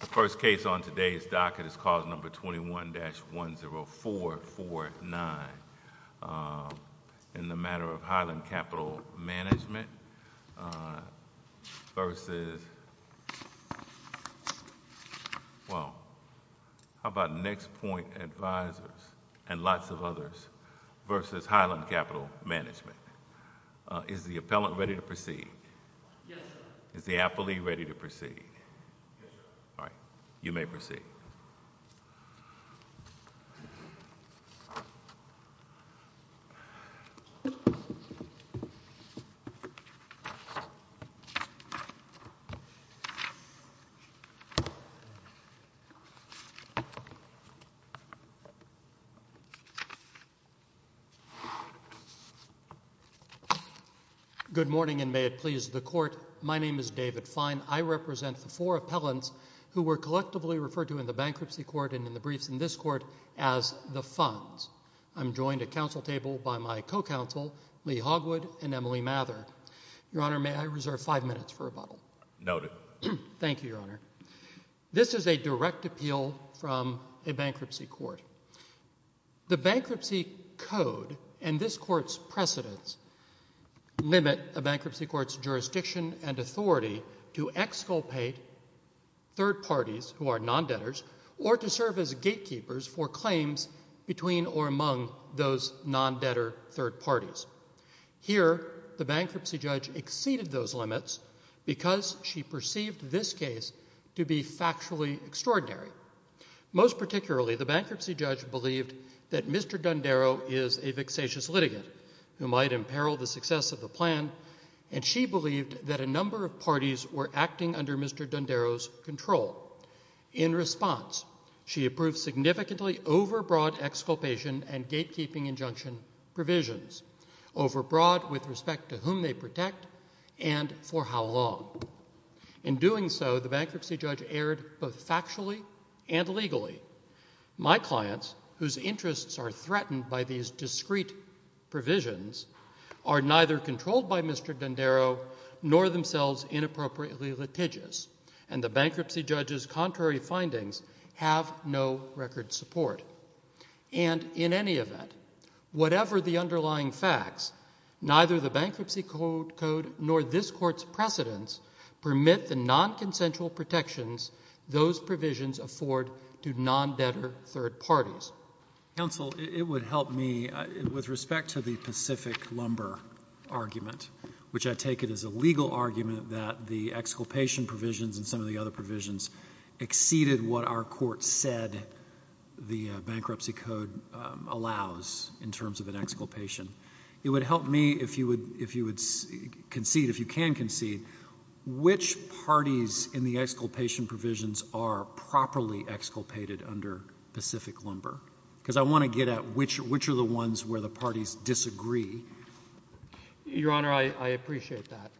The first case on today's docket is cause number 21-10449 in the matter of Highland Capital Management versus, well, how about NexPoint Advisors and lots of others versus Highland Capital Management. Is the appellant ready to proceed? Yes, sir. Is the appellee Good morning, and may it please the Court. My name is David Fine. I represent the four appellants who were collectively referred to in the bankruptcy court and in the briefs in this court as the funds. I'm joined at council table by my co-counsel, Lee Hogwood, and Emily Mather. Your Honor, may I reserve five minutes for rebuttal? Noted. Thank you, Your Honor. This is a direct appeal from a bankruptcy court. The bankruptcy code and this court's precedents limit a bankruptcy court's jurisdiction and authority to exculpate third parties who are non-debtors or to serve as gatekeepers for claims between or among those non-debtor third parties. Here, the bankruptcy judge exceeded those limits because she perceived this case to be factually extraordinary. Most particularly, the bankruptcy judge believed that Mr. Dundaro is a vexatious litigant who might imperil the success of the plan, and she believed that a number of parties were acting under Mr. Dundaro's control. In response, she approved significantly overbroad exculpation and for how long. In doing so, the bankruptcy judge erred both factually and legally. My clients, whose interests are threatened by these discrete provisions, are neither controlled by Mr. Dundaro nor themselves inappropriately litigious, and the bankruptcy judge's contrary findings have no record support. And in any event, whatever the underlying facts, neither the bankruptcy code nor this court's precedents permit the nonconsensual protections those provisions afford to non-debtor third parties. Counsel, it would help me with respect to the Pacific lumber argument, which I take it as a legal argument that the exculpation provisions and some of the other provisions exceeded what our court said the bankruptcy code allows in terms of an exculpation. It would help me if you would concede, if you can concede, which parties in the exculpation provisions are properly exculpated under Pacific lumber, because I want to get at which are the ones where the parties disagree. Your Honor, I appreciate that.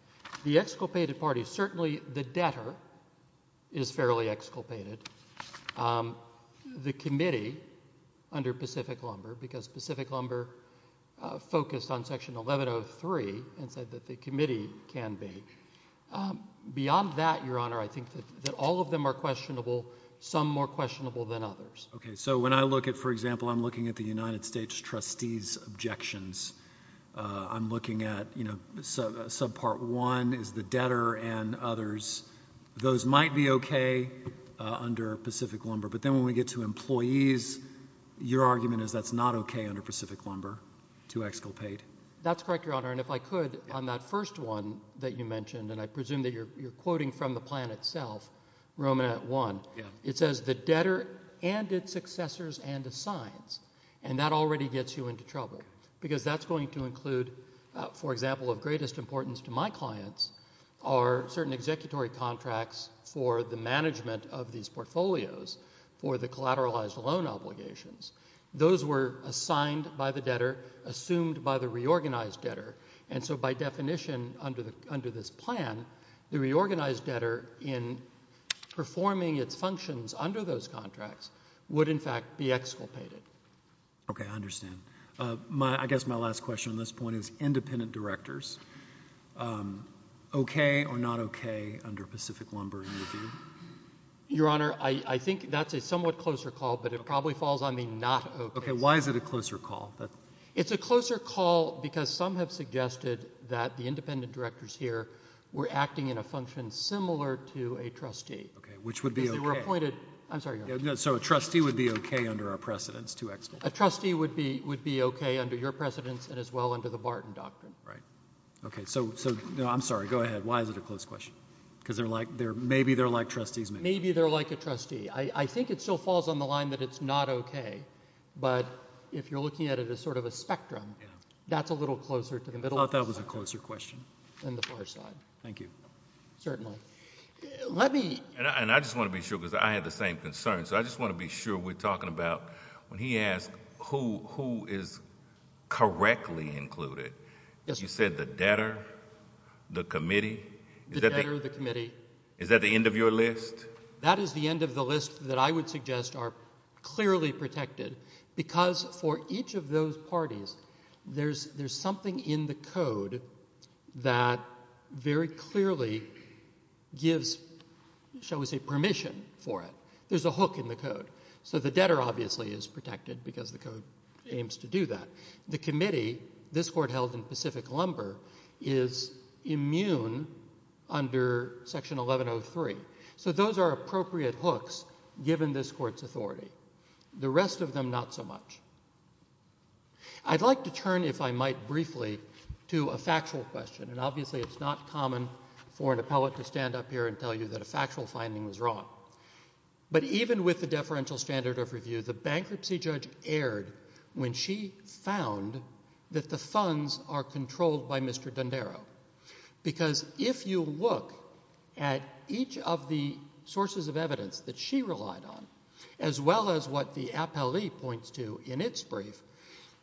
The exculpated parties, certainly the debtor is fairly exculpated. The committee, under Pacific lumber, because Pacific lumber focused on Section 1103 and said that the committee can be. Beyond that, Your Honor, I think that all of them are questionable, some more questionable than others. Okay. So when I look at, for example, I'm looking at the United States trustees' objections, I'm looking at, you know, subpart one is the debtor and others. Those might be okay under Pacific lumber, but then when we get to employees, your argument is that's not okay under Pacific lumber to exculpate. That's correct, Your Honor, and if I could, on that first one that you mentioned, and I presume that you're quoting from the plan itself, Romanet 1. Yeah. It says the debtor and its successors and assigns, and that already gets you into trouble because that's going to include, for example, of greatest importance to my clients are certain executory contracts for the management of these portfolios for the collateralized loan obligations. Those were assigned by the debtor, assumed by the reorganized debtor, and so by definition under this plan, the reorganized debtor in performing its functions under those contracts would, in fact, be exculpated. Okay. I understand. I guess my last question on this point is independent directors, okay or not okay under Pacific lumber in review? Your Honor, I think that's a somewhat closer call, but it probably falls on the not okay side. Okay. Why is it a closer call? It's a closer call because some have suggested that the independent directors here were acting in a function similar to a trustee. Okay. Which would be okay? Because they were appointed. I'm sorry, Your Honor. So a trustee would be okay under our precedence to exculpate? A trustee would be okay under your precedence and as well under the Barton Doctrine. Right. Okay. So I'm sorry. Go ahead. Why is it a close question? Because maybe they're like trustees maybe. Maybe they're like a trustee. I think it still falls on the line that it's not okay, but if you're looking at it as sort of a spectrum, that's a little closer to the middle of the spectrum. I thought that was a closer question. Than the far side. Thank you. Certainly. And I just want to be sure because I had the same concern, so I just want to be sure we're correctly included. Yes. You said the debtor, the committee. The debtor, the committee. Is that the end of your list? That is the end of the list that I would suggest are clearly protected because for each of those parties, there's something in the code that very clearly gives, shall we say, permission for it. There's a hook in the code. So the debtor obviously is protected because the committee, this court held in Pacific Lumber, is immune under section 1103. So those are appropriate hooks given this court's authority. The rest of them, not so much. I'd like to turn, if I might briefly, to a factual question. And obviously it's not common for an appellate to stand up here and tell you that a factual finding was wrong. But even with the deferential standard of review, the bankruptcy judge erred when she found that the funds are controlled by Mr. Dondero. Because if you look at each of the sources of evidence that she relied on, as well as what the appellee points to in its brief,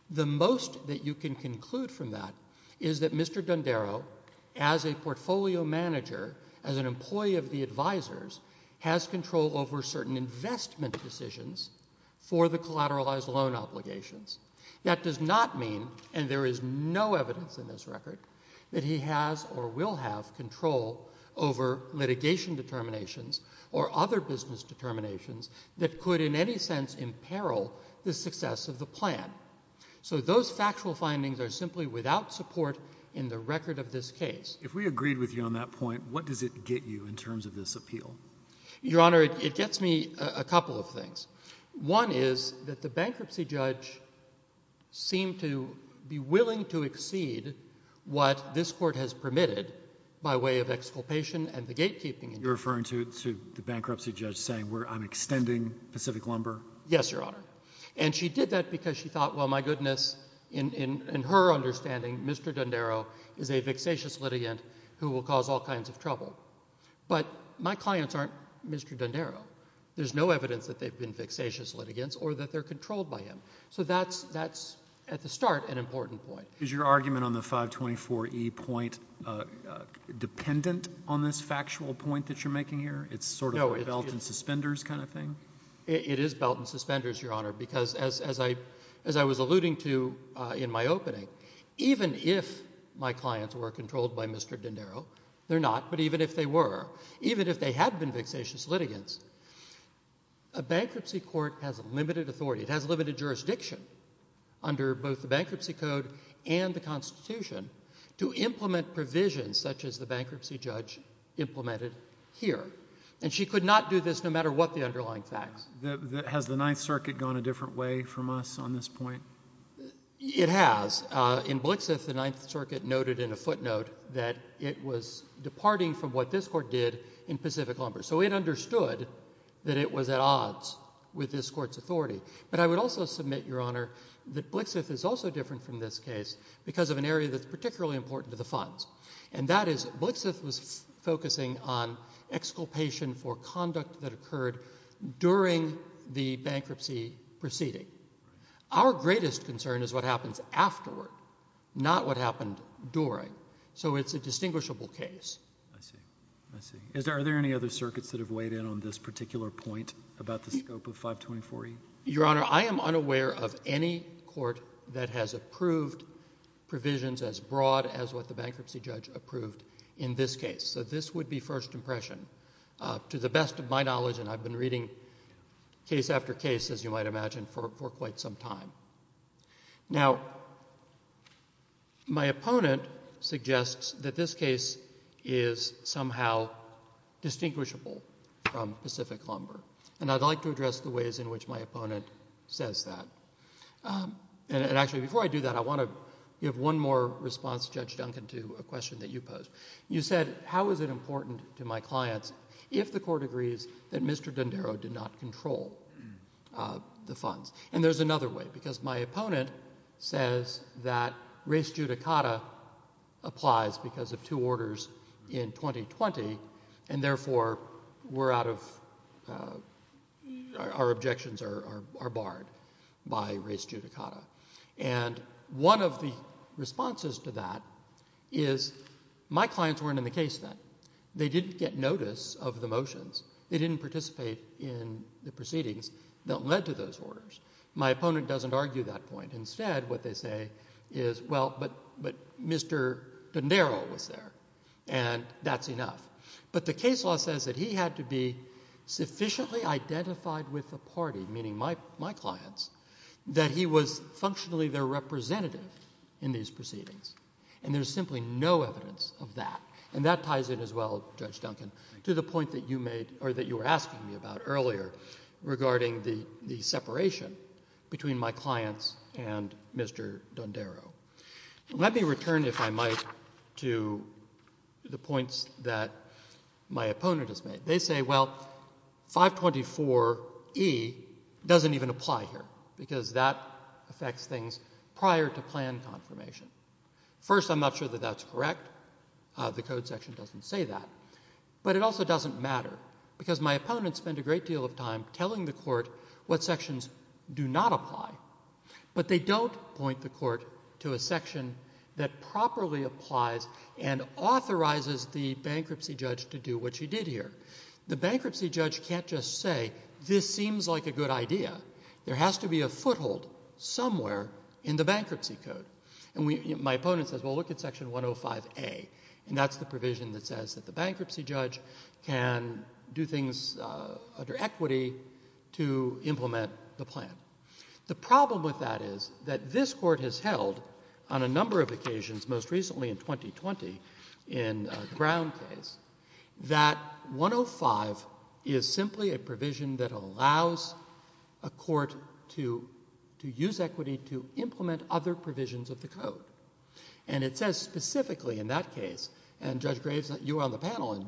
the most that you can conclude from that is that Mr. Dondero, as a portfolio manager, as an employee of the advisors, has control over certain investment decisions for the collateralized loan obligations. That does not mean, and there is no evidence in this record, that he has or will have control over litigation determinations or other business determinations that could in any sense imperil the success of the plan. So those factual findings are simply without support in the record of this case. If we agreed with you on that point, what does it get you in terms of this appeal? Your Honor, it gets me a couple of things. One is that the bankruptcy judge seemed to be willing to exceed what this court has permitted by way of exculpation and the gatekeeping. You're referring to the bankruptcy judge saying, I'm extending Pacific Lumber? Yes, Your Honor. And she did that because she thought, well, my goodness, in her understanding, Mr. Dondero is a vexatious litigant who will cause all kinds of trouble. But my clients aren't Mr. Dondero. There's no evidence that they've been vexatious litigants or that they're controlled by him. So that's, at the start, an important point. Is your argument on the 524e point dependent on this factual point that you're making here? It's sort of a belt and suspenders kind of thing? It is belt and suspenders, Your Honor, because as I was alluding to in my opening, even if my clients were controlled by Mr. Dondero, they're not, but even if they were, even if they had been vexatious litigants, a bankruptcy court has limited authority, it has limited jurisdiction under both the Bankruptcy Code and the Constitution to implement provisions such as the bankruptcy judge implemented here. And she could not do this no matter what the underlying facts. Has the Ninth Circuit gone a different way from us on this point? It has. In Blixith, the Ninth Circuit noted in a footnote that it was departing from what this court did in Pacific Lumber. So it understood that it was at odds with this court's authority. But I would also submit, Your Honor, that Blixith is also different from this case because of an area that's particularly important to the funds. And that is Blixith was focusing on exculpation for conduct that occurred during the bankruptcy proceeding. Our greatest concern is what happens afterward, not what happened during. So it's a distinguishable case. I see. I see. Are there any other circuits that have weighed in on this particular point about the scope of 524E? Your Honor, I am unaware of any court that has approved provisions as broad as what the bankruptcy judge approved in this case. So this would be first impression. To the best of my knowledge, and I've been reading case after case, as you might imagine, for quite some time. Now, my opponent suggests that this case is somehow distinguishable from Pacific Lumber. And I'd like to address the ways in which my opponent says that. And actually, before I do that, I want to give one more response, Judge Duncan, to a question that you posed. You said, how is it important to my clients if the court agrees that Mr. D'Andaro did not control the funds? And there's another way. Because my opponent says that res judicata applies because of two orders in 2020, and therefore, our objections are barred by res judicata. And one of the responses to that is, my clients weren't in the case then. They didn't get notice of the motions. They didn't participate in the proceedings that led to those orders. My opponent doesn't argue that point. Instead, what they say is, well, but Mr. D'Andaro was there, and that's enough. But the case law says that he had to be sufficiently identified with the party, meaning my clients, that he was functionally their representative in these proceedings. And there's simply no evidence of that. And that ties in as well, Judge Duncan, to the point that you were asking me about earlier regarding the separation between my clients and Mr. D'Andaro. Let me return, if I might, to the points that my opponent has made. They say, well, 524E doesn't even apply here, because that affects things prior to plan confirmation. First, I'm not sure that that's correct. The Code section doesn't say that. But it also doesn't matter, because my opponent spent a great deal of time telling the Court what sections do not apply. But they don't point the Court to a section that properly applies and authorizes the bankruptcy judge to do what she did here. The bankruptcy judge can't just say, this seems like a good idea. There has to be a foothold somewhere in the bankruptcy code. And my opponent says, well, look at section 105A. And that's the provision that says that the bankruptcy judge can do things under equity to implement the plan. The problem with that is that this Court has held on a number of occasions, most recently in 2020 in a Brown case, that 105 is simply a provision that allows a court to use equity to implement other provisions of the Code. And it says specifically in that case, and Judge Graves, you were on the panel in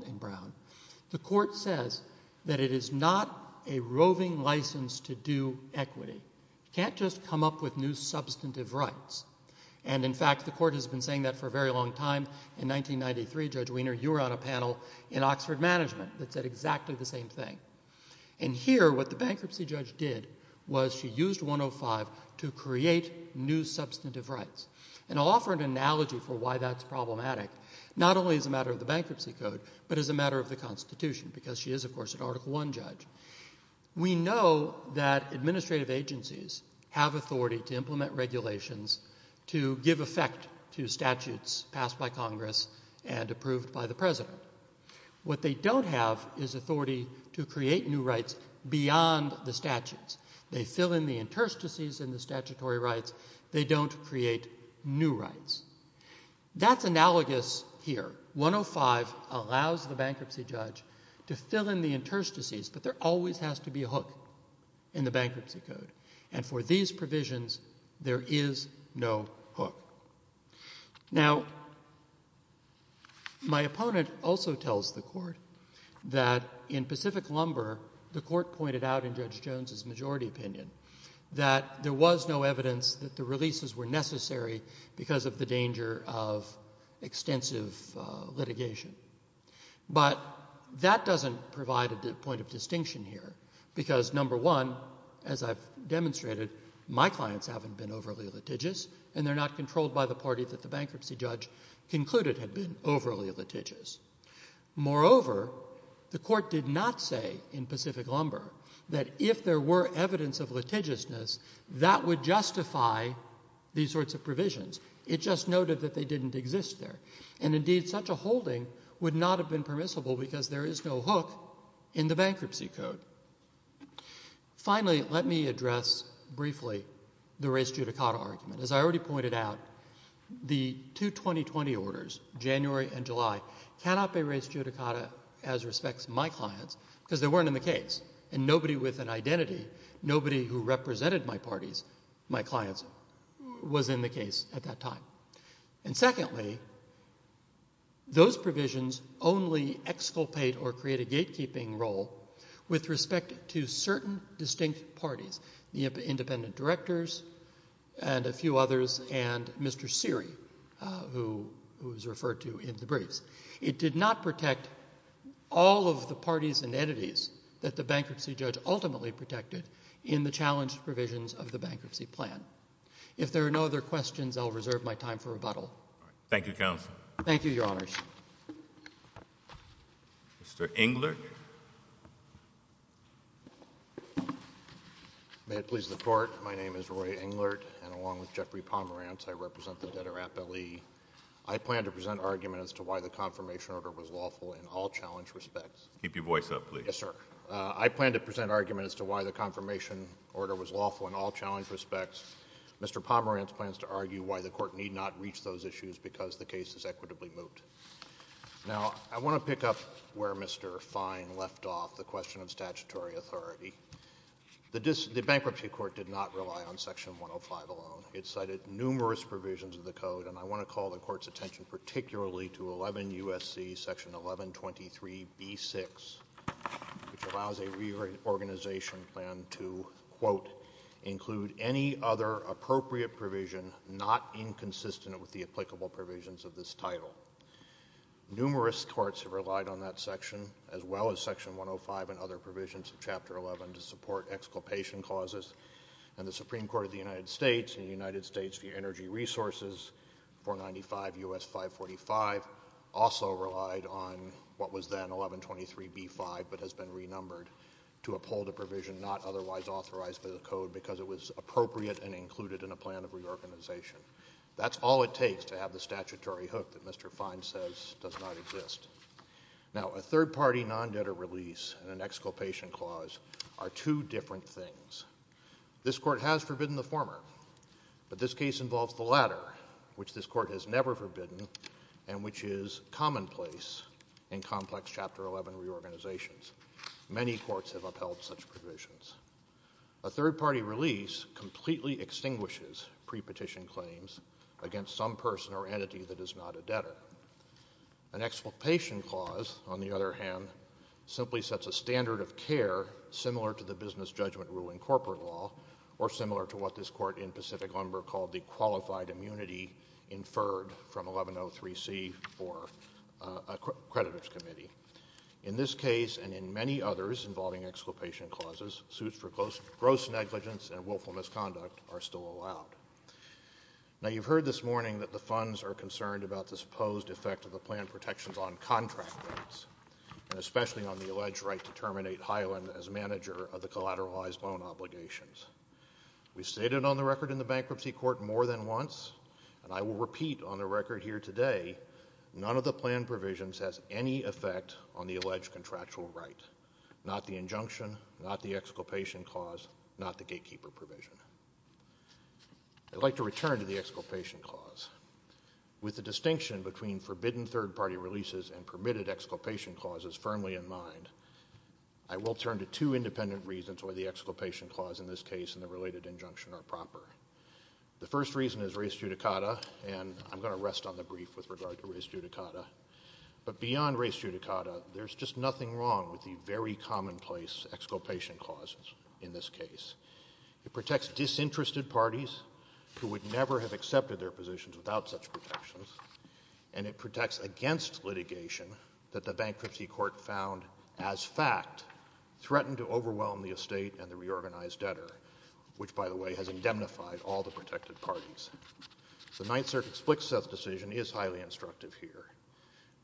You can't just come up with new substantive rights. And, in fact, the Court has been saying that for a very long time. In 1993, Judge Wiener, you were on a panel in Oxford Management that said exactly the same thing. And here, what the bankruptcy judge did was she used 105 to create new substantive rights. And I'll offer an analogy for why that's problematic, not only as a matter of the bankruptcy code, but as a matter of the Constitution, because she is, of course, an Article I judge. We know that administrative agencies have authority to implement regulations to give effect to statutes passed by Congress and approved by the President. What they don't have is authority to create new rights beyond the statutes. They fill in the interstices in the statutory rights. They don't create new rights. That's analogous here. 105 allows the bankruptcy judge to fill in the interstices, but there always has to be a hook in the bankruptcy code. And for these provisions, there is no hook. Now, my opponent also tells the Court that in Pacific Lumber, the Court pointed out in Judge Jones' majority opinion that there was no evidence that the releases were necessary because of the danger of extensive litigation. But that doesn't provide a point of distinction here, because, number one, as I've demonstrated, my clients haven't been overly litigious, and they're not controlled by the party that the bankruptcy judge concluded had been overly litigious. Moreover, the Court did not say in Pacific Lumber that if there were evidence of these sorts of provisions. It just noted that they didn't exist there. And, indeed, such a holding would not have been permissible because there is no hook in the bankruptcy code. Finally, let me address briefly the res judicata argument. As I already pointed out, the two 2020 orders, January and July, cannot be res judicata as respects to my clients, because they weren't in the case. And nobody with an identity, nobody who represented my parties, my clients, was in the case at that time. And, secondly, those provisions only exculpate or create a gatekeeping role with respect to certain distinct parties, the independent directors and a few others and Mr. Seery, who was referred to in the briefs. It did not protect all of the parties and entities that the bankruptcy judge ultimately protected in the challenged provisions of the bankruptcy plan. If there are no other questions, I'll reserve my time for rebuttal. Thank you, Counsel. Thank you, Your Honors. Mr. Englert. May it please the Court. My name is Roy Englert, and along with Jeffrey Pomerantz, I represent the debtor Appellee. I plan to present argument as to why the confirmation order was lawful in all challenged respects. Keep your voice up, please. Yes, sir. I plan to present argument as to why the confirmation order was lawful in all challenged respects. Mr. Pomerantz plans to argue why the Court need not reach those issues because the case is equitably moved. Now, I want to pick up where Mr. Fine left off, the question of statutory authority. The bankruptcy court did not rely on Section 105 alone. It cited numerous provisions of the Code, and I want to call the Court's attention particularly to 11 U.S.C. Section 1123B6, which allows a reorganization plan to, quote, include any other appropriate provision not inconsistent with the applicable provisions of this title. Numerous courts have relied on that section, as well as Section 105 and other provisions of Chapter 11, to support exculpation clauses. And the Supreme Court of the United States and the United States Energy Resources, 495 U.S. 545, also relied on what was then 1123B5 but has been renumbered to uphold a provision not otherwise authorized by the Code because it was appropriate and included in a plan of reorganization. That's all it takes to have the statutory hook that Mr. Fine says does not exist. Now, a third-party non-debtor release and an exculpation clause are two different things. This Court has forbidden the former, but this case involves the latter, which this Court has never forbidden and which is commonplace in complex Chapter 11 reorganizations. Many courts have upheld such provisions. A third-party release completely extinguishes prepetition claims against some person or entity that is not a debtor. An exculpation clause, on the other hand, simply sets a standard of care similar to the business judgment rule in corporate law or similar to what this Court in Pacific Lumber called the qualified immunity inferred from 1103C for a creditor's committee. In this case and in many others involving exculpation clauses, suits for gross negligence and willful misconduct are still allowed. Now, you've heard this morning that the funds are concerned about the supposed effect of the plan protections on contract rights and especially on the alleged right to terminate Hyland as manager of the collateralized loan obligations. We've stated on the record in the Bankruptcy Court more than once, and I will repeat on the record here today, none of the plan provisions has any effect on the alleged contractual right, not the injunction, not the exculpation clause, not the gatekeeper provision. I'd like to return to the exculpation clause. With the distinction between forbidden third-party releases and permitted I will turn to two independent reasons why the exculpation clause in this case and the related injunction are proper. The first reason is res judicata, and I'm going to rest on the brief with regard to res judicata. But beyond res judicata, there's just nothing wrong with the very commonplace exculpation clauses in this case. It protects disinterested parties who would never have accepted their positions without such protections, and it protects against litigation that the Bankruptcy Court found, as fact, threatened to overwhelm the estate and the reorganized debtor, which, by the way, has indemnified all the protected parties. The Ninth Circuit's Flick-Seth decision is highly instructive here.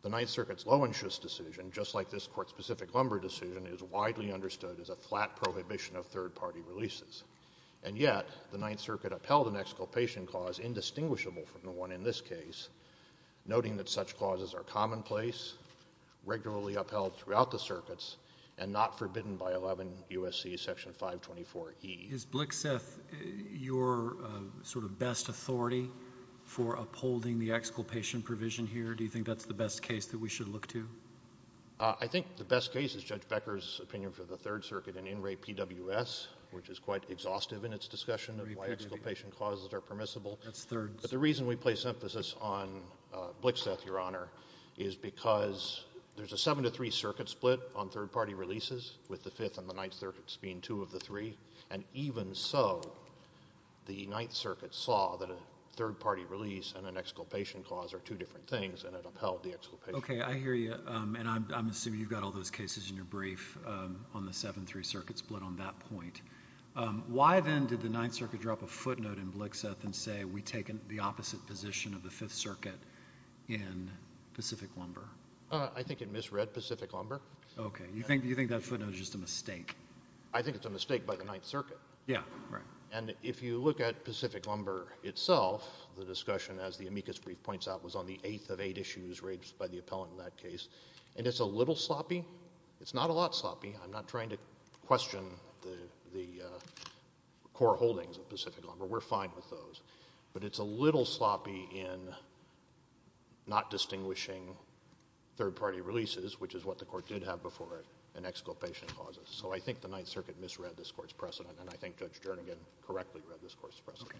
The Ninth Circuit's Loewenschus decision, just like this Court-specific Lumber decision, is widely understood as a flat prohibition of third-party releases. And yet the Ninth Circuit upheld an exculpation clause indistinguishable from the one in this case, noting that such clauses are commonplace, regularly upheld throughout the circuits, and not forbidden by 11 U.S.C. Section 524E. Is Flick-Seth your sort of best authority for upholding the exculpation provision here? Do you think that's the best case that we should look to? I think the best case is Judge Becker's opinion for the Third Circuit in In Re PWS, which is quite exhaustive in its discussion of why exculpation clauses are permissible. That's third. But the reason we place emphasis on Flick-Seth, Your Honor, is because there's a seven-to-three circuit split on third-party releases, with the Fifth and the Ninth Circuits being two of the three. And even so, the Ninth Circuit saw that a third-party release and an exculpation clause are two different things, and it upheld the exculpation. Okay, I hear you. And I'm assuming you've got all those cases in your brief on the seven-three circuit split on that point. Why, then, did the Ninth Circuit drop a footnote in Flick-Seth and say, we've taken the opposite position of the Fifth Circuit in Pacific Lumber? I think it misread Pacific Lumber. Okay. Do you think that footnote is just a mistake? I think it's a mistake by the Ninth Circuit. Yeah, right. And if you look at Pacific Lumber itself, the discussion, as the amicus brief points out, was on the eighth of eight issues raised by the appellant in that case. And it's a little sloppy. It's not a lot sloppy. I'm not trying to question the core holdings of Pacific Lumber. We're fine with those. But it's a little sloppy in not distinguishing third-party releases, which is what the court did have before, and exculpation clauses. So I think the Ninth Circuit misread this court's precedent, and I think Judge Jernigan correctly read this court's precedent.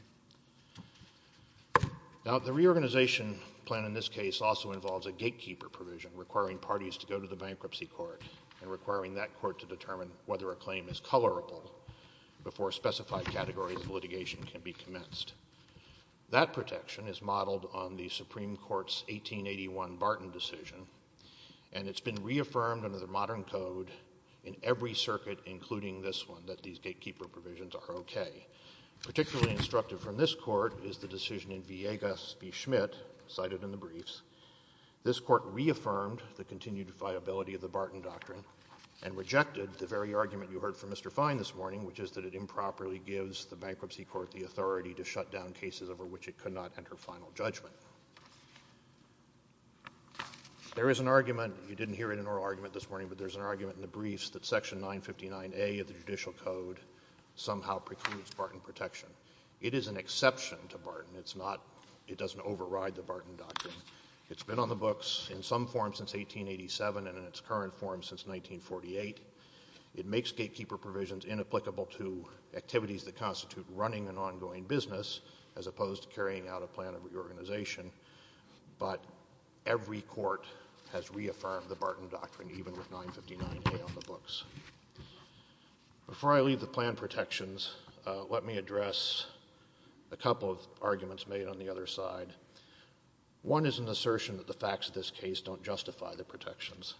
Okay. Now, the reorganization plan in this case also involves a gatekeeper provision, requiring parties to go to the bankruptcy court and requiring that court to determine whether a claim is colorable before specified categories of litigation can be commenced. That protection is modeled on the Supreme Court's 1881 Barton decision, and it's been reaffirmed under the modern code in every circuit, including this one, that these gatekeeper provisions are okay. Particularly instructive from this court is the decision in Villegas v. Schmidt, cited in the briefs. This court reaffirmed the continued viability of the Barton doctrine and rejected the very argument you heard from Mr. Fine this morning, which is that it improperly gives the bankruptcy court the authority to shut down cases over which it could not enter final judgment. There is an argument. You didn't hear it in an oral argument this morning, but there's an argument in the briefs that Section 959A of the Judicial Code somehow precludes Barton protection. It is an exception to Barton. It doesn't override the Barton doctrine. It's been on the books in some form since 1887 and in its current form since 1948. It makes gatekeeper provisions inapplicable to activities that constitute running an ongoing business, as opposed to carrying out a plan of reorganization. But every court has reaffirmed the Barton doctrine, even with 959A on the books. Before I leave the plan protections, let me address a couple of arguments made on the other side. One is an assertion that the facts of this case don't justify the protections.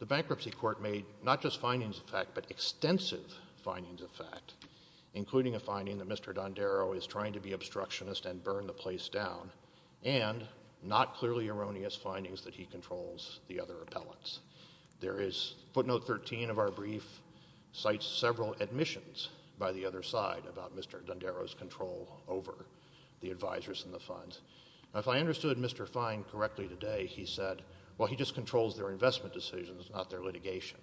The bankruptcy court made not just findings of fact, but extensive findings of fact, including a finding that Mr. Dondero is trying to be obstructionist and burn the place down, and not clearly erroneous findings that he controls the other appellants. Footnote 13 of our brief cites several admissions by the other side about Mr. Dondero's control over the advisers in the funds. If I understood Mr. Fine correctly today, he said, well, he just controls their investment decisions, not their litigation.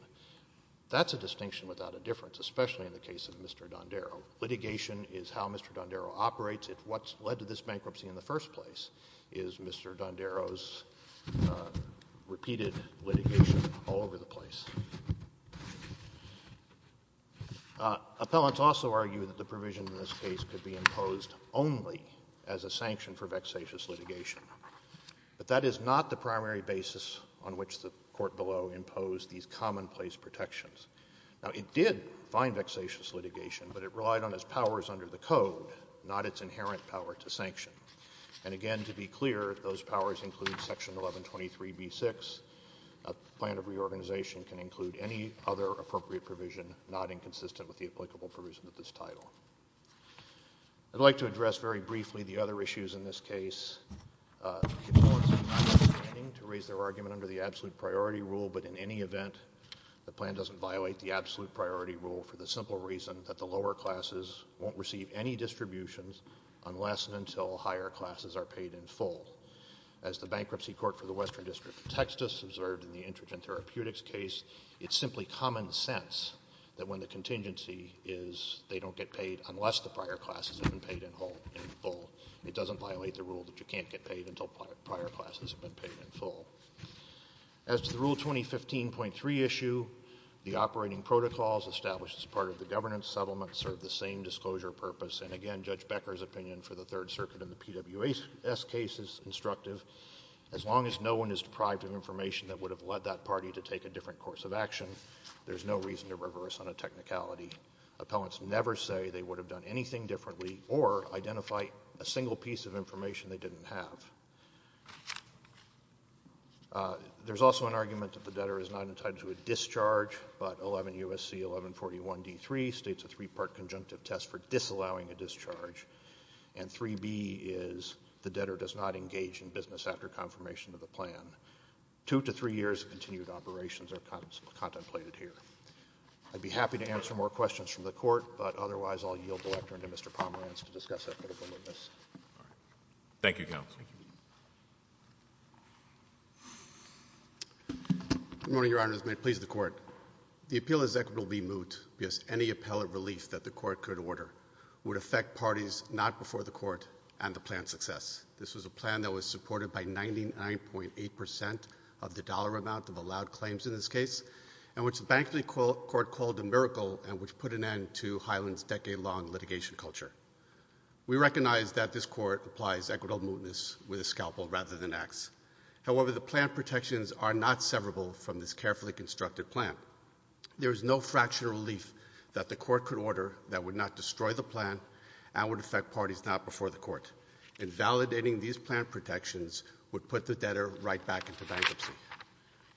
That's a distinction without a difference, especially in the case of Mr. Dondero. Litigation is how Mr. Dondero operates. What led to this bankruptcy in the first place is Mr. Dondero's repeated litigation all over the place. Appellants also argue that the provision in this case could be imposed only as a sanction for vexatious litigation. But that is not the primary basis on which the court below imposed these commonplace protections. Now, it did find vexatious litigation, but it relied on its powers under the code, not its inherent power to sanction. And, again, to be clear, those powers include Section 1123b-6. A plan of reorganization can include any other appropriate provision not inconsistent with the applicable provision of this title. I'd like to address very briefly the other issues in this case. The appellants are not intending to raise their argument under the absolute priority rule, but in any event, the plan doesn't violate the absolute priority rule for the simple reason that the lower classes won't receive any distributions unless and until higher classes are paid in full. As the Bankruptcy Court for the Western District of Texas observed in the Intergent Therapeutics case, it's simply common sense that when the contingency is they don't get paid unless the prior classes have been paid in full. It doesn't violate the rule that you can't get paid until prior classes have been paid in full. As to the Rule 2015.3 issue, the operating protocols established as part of the governance settlement serve the same disclosure purpose. And again, Judge Becker's opinion for the Third Circuit and the PWS case is instructive. As long as no one is deprived of information that would have led that party to take a different course of action, there's no reason to reverse on a technicality. Appellants never say they would have done anything differently or identify a single piece of information they didn't have. There's also an argument that the debtor is not entitled to a discharge, but 11 U.S.C. 1141 D.3 states a three-part conjunctive test for disallowing a discharge, and 3B is the debtor does not engage in business after confirmation of the plan. Two to three years of continued operations are contemplated here. I'd be happy to answer more questions from the Court, but otherwise I'll yield the lectern to Mr. Pomerantz to discuss that further. Thank you, Counsel. Good morning, Your Honors. May it please the Court. The appeal is equitably moot because any appellate relief that the Court could order would affect parties not before the Court and the plan's success. This was a plan that was supported by 99.8 percent of the dollar amount of allowed claims in this case and which the Bank of New York Court called a miracle and which put an end to Highland's decade-long litigation culture. We recognize that this Court applies equitable mootness with a scalpel rather than an axe. However, the plan protections are not severable from this carefully constructed plan. There is no fraction of relief that the Court could order that would not destroy the plan and would affect parties not before the Court. Invalidating these plan protections would put the debtor right back into bankruptcy.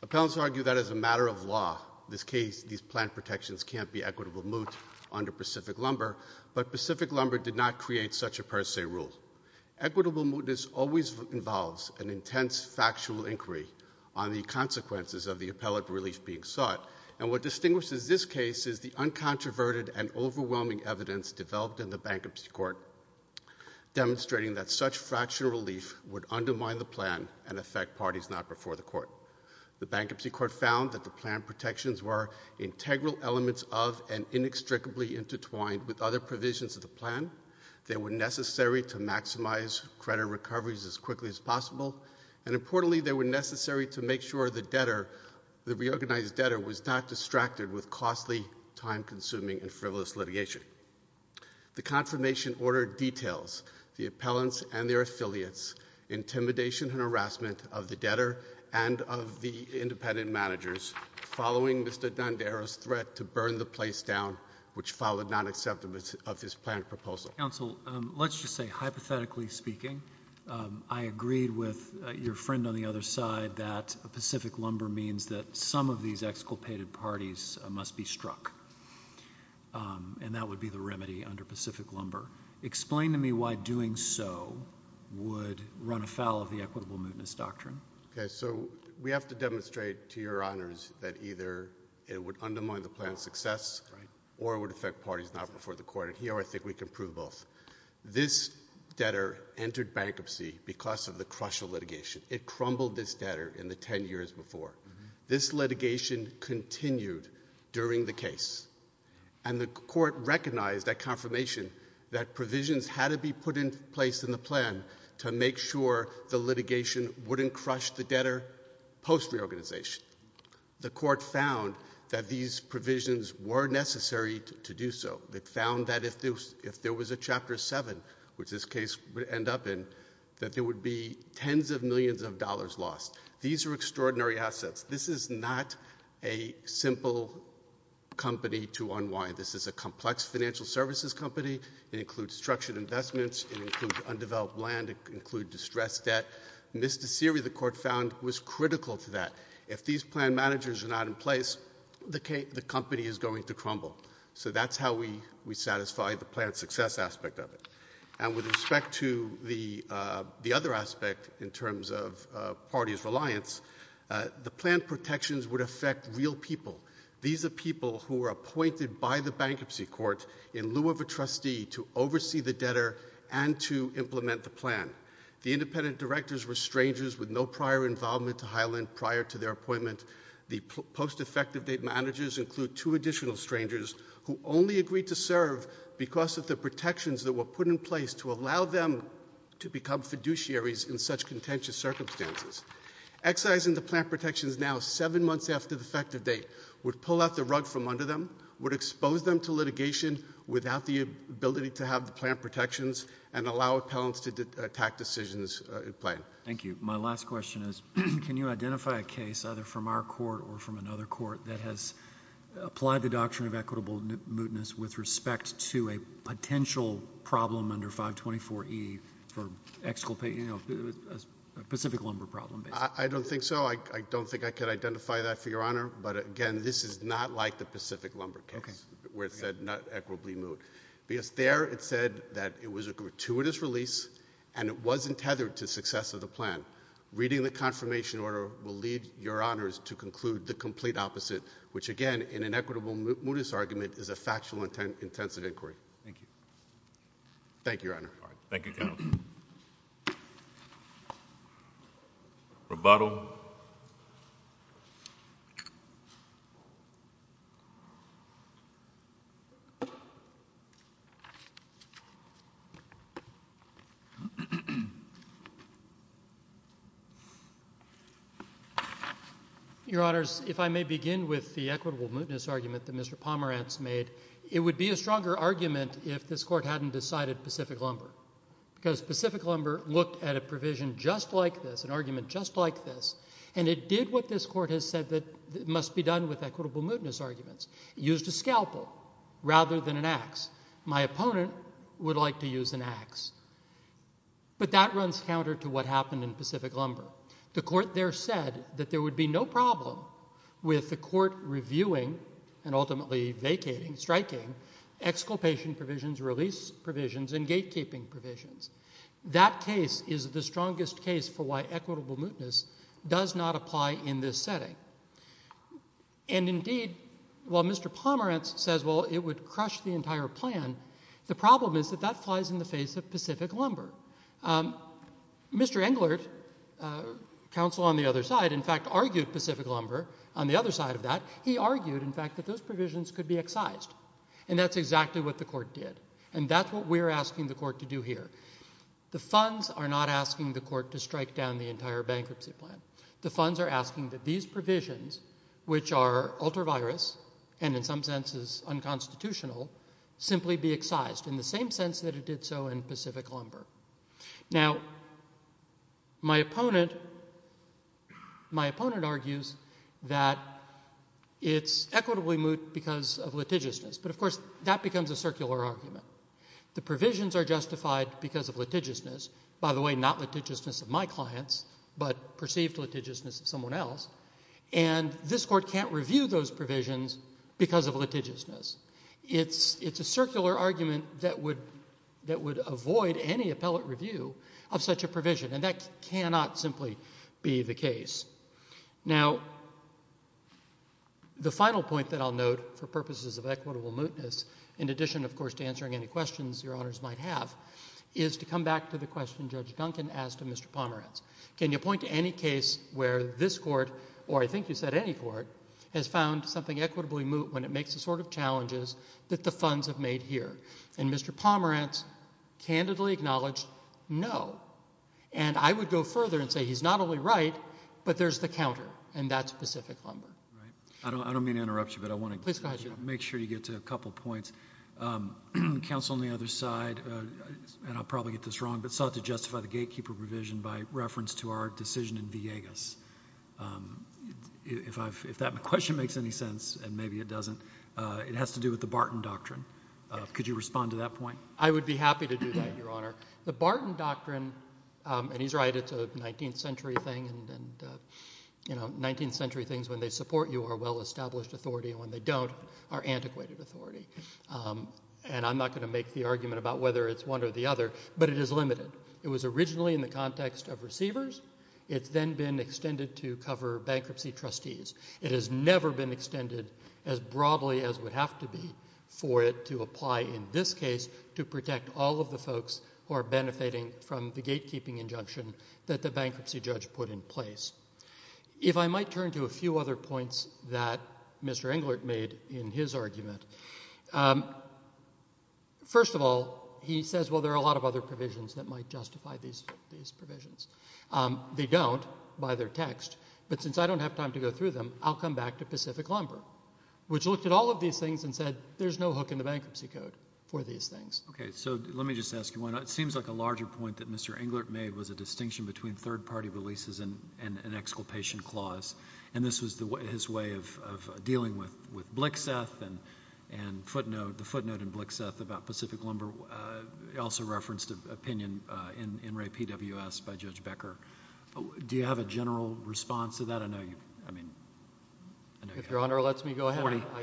Appellants argue that as a matter of law, in this case, these plan protections can't be equitably moot under Pacific Lumber, but Pacific Lumber did not create such a per se rule. Equitable mootness always involves an intense factual inquiry on the thought, and what distinguishes this case is the uncontroverted and overwhelming evidence developed in the Bankruptcy Court demonstrating that such fractional relief would undermine the plan and affect parties not before the Court. The Bankruptcy Court found that the plan protections were integral elements of and inextricably intertwined with other provisions of the plan. They were necessary to maximize credit recoveries as quickly as possible, and was not distracted with costly, time-consuming, and frivolous litigation. The confirmation order details the appellants and their affiliates' intimidation and harassment of the debtor and of the independent managers following Mr. Dandera's threat to burn the place down, which followed nonacceptance of his planned proposal. Counsel, let's just say, hypothetically speaking, I agreed with your friend on how these exculpated parties must be struck, and that would be the remedy under Pacific Lumber. Explain to me why doing so would run afoul of the equitable mootness doctrine. Okay. So we have to demonstrate to your honors that either it would undermine the plan's success or it would affect parties not before the Court. And here I think we can prove both. This debtor entered bankruptcy because of the crushing litigation. It crumbled this debtor in the 10 years before. This litigation continued during the case. And the Court recognized that confirmation that provisions had to be put in place in the plan to make sure the litigation wouldn't crush the debtor post reorganization. The Court found that these provisions were necessary to do so. It found that if there was a Chapter 7, which this case would end up in, that there would be tens of millions of dollars lost. These are extraordinary assets. This is not a simple company to unwind. This is a complex financial services company. It includes structured investments. It includes undeveloped land. It includes distressed debt. Misdemeanor, the Court found, was critical to that. If these plan managers are not in place, the company is going to crumble. So that's how we satisfy the plan's success aspect of it. And with respect to the other aspect in terms of parties' reliance, the plan protections would affect real people. These are people who are appointed by the Bankruptcy Court in lieu of a trustee to oversee the debtor and to implement the plan. The independent directors were strangers with no prior involvement to Highland prior to their appointment. The post-effective date managers include two additional strangers who only agreed to serve because of the protections that were put in place to allow them to become fiduciaries in such contentious circumstances. Excising the plan protections now seven months after the effective date would pull out the rug from under them, would expose them to litigation without the ability to have the plan protections, and allow appellants to attack decisions in the plan. Thank you. My last question is, can you identify a case, either from our court or from your office, with respect to a potential problem under 524E for exculpating a Pacific Lumber problem? I don't think so. I don't think I can identify that for your Honor. But again, this is not like the Pacific Lumber case, where it said not equitably moot. Because there it said that it was a gratuitous release, and it wasn't tethered to success of the plan. Reading the confirmation order will lead your Honors to conclude the complete opposite, which again, in an equitable mootness argument, is a factual intensive inquiry. Thank you. Thank you, Your Honor. Thank you, Counsel. Rebuttal. Your Honors, if I may begin with the equitable mootness argument that Mr. Pomerantz made, it would be a stronger argument if this Court hadn't decided Pacific Lumber. Because Pacific Lumber looked at a provision just like this, an argument just like this, and it did what this Court has said must be done with equitable mootness arguments, used a scalpel rather than an axe. My opponent would like to use an axe. But that runs counter to what happened in Pacific Lumber. The Court there said that there would be no problem with the Court reviewing and ultimately vacating, striking, exculpation provisions, release provisions, and gatekeeping provisions. That case is the strongest case for why equitable mootness does not apply in this setting. And indeed, while Mr. Pomerantz says, well, it would crush the entire plan, the problem is that that flies in the face of Pacific Lumber. Mr. Englert, Counsel on the other side, in fact, argued Pacific Lumber on the other side of that. He argued, in fact, that those provisions could be excised. And that's exactly what the Court did. And that's what we're asking the Court to do here. The funds are not asking the Court to strike down the entire bankruptcy plan. The funds are asking that these provisions, which are ultra-virus and in some senses unconstitutional, simply be excised in the same sense that it did so in Pacific Lumber. Now, my opponent argues that it's equitably moot because of litigiousness. But, of course, that becomes a circular argument. The provisions are justified because of litigiousness. By the way, not litigiousness of my clients, but perceived litigiousness of someone else. And this Court can't review those provisions because of litigiousness. It's a circular argument that would avoid any appellate review of such a provision. And that cannot simply be the case. Now, the final point that I'll note for purposes of equitable mootness, in case you have any questions your Honors might have, is to come back to the question Judge Duncan asked of Mr. Pomerantz. Can you point to any case where this Court, or I think you said any Court, has found something equitably moot when it makes the sort of challenges that the funds have made here? And Mr. Pomerantz candidly acknowledged no. And I would go further and say he's not only right, but there's the counter, and that's Pacific Lumber. I don't mean to interrupt you, but I want to make sure you get to a couple points. Counsel on the other side, and I'll probably get this wrong, but sought to justify the gatekeeper provision by reference to our decision in Villegas. If that question makes any sense, and maybe it doesn't, it has to do with the Barton Doctrine. Could you respond to that point? I would be happy to do that, Your Honor. The Barton Doctrine, and he's right, it's a 19th century thing, and 19th century things, when they support you, are well-established authority, and when they don't, are antiquated authority. And I'm not going to make the argument about whether it's one or the other, but it is limited. It was originally in the context of receivers. It's then been extended to cover bankruptcy trustees. It has never been extended as broadly as would have to be for it to apply in this case to protect all of the folks who are benefiting from the gatekeeping injunction that the bankruptcy judge put in place. If I might turn to a few other points that Mr. Englert made in his argument, first of all, he says, well, there are a lot of other provisions that might justify these provisions. They don't by their text, but since I don't have time to go through them, I'll come back to Pacific Lumber, which looked at all of these things and said, there's no hook in the bankruptcy code for these things. Okay, so let me just ask you one. It seems like a larger point that Mr. Englert made was a distinction between an exculpation clause, and this was his way of dealing with Blixeth, and the footnote in Blixeth about Pacific Lumber also referenced an opinion in Ray PWS by Judge Becker. Do you have a general response to that? I know you have. If Your Honor lets me go ahead,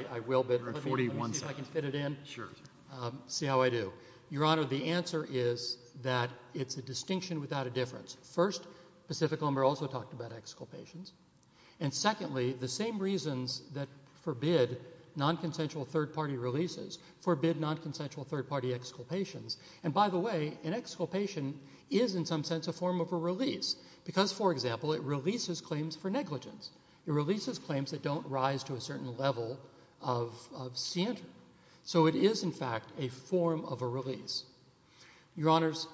I will. You're at 41 seconds. Let me see if I can fit it in, see how I do. Your Honor, the answer is that it's a distinction without a difference. First, Pacific Lumber also talked about exculpations. And secondly, the same reasons that forbid nonconsensual third-party releases forbid nonconsensual third-party exculpations. And by the way, an exculpation is in some sense a form of a release, because, for example, it releases claims for negligence. It releases claims that don't rise to a certain level of scientry. So it is, in fact, a form of a release. Your Honors,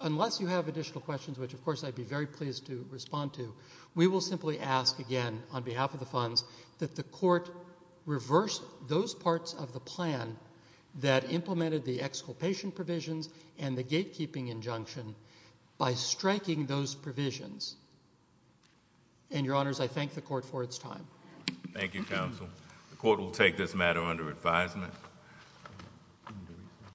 unless you have additional questions, which, of course, I'd be very pleased to respond to, we will simply ask, again, on behalf of the funds, that the Court reverse those parts of the plan that implemented the exculpation provisions and the gatekeeping injunction by striking those provisions. And, Your Honors, I thank the Court for its time. Thank you, Counsel. The Court will take this matter under advisement.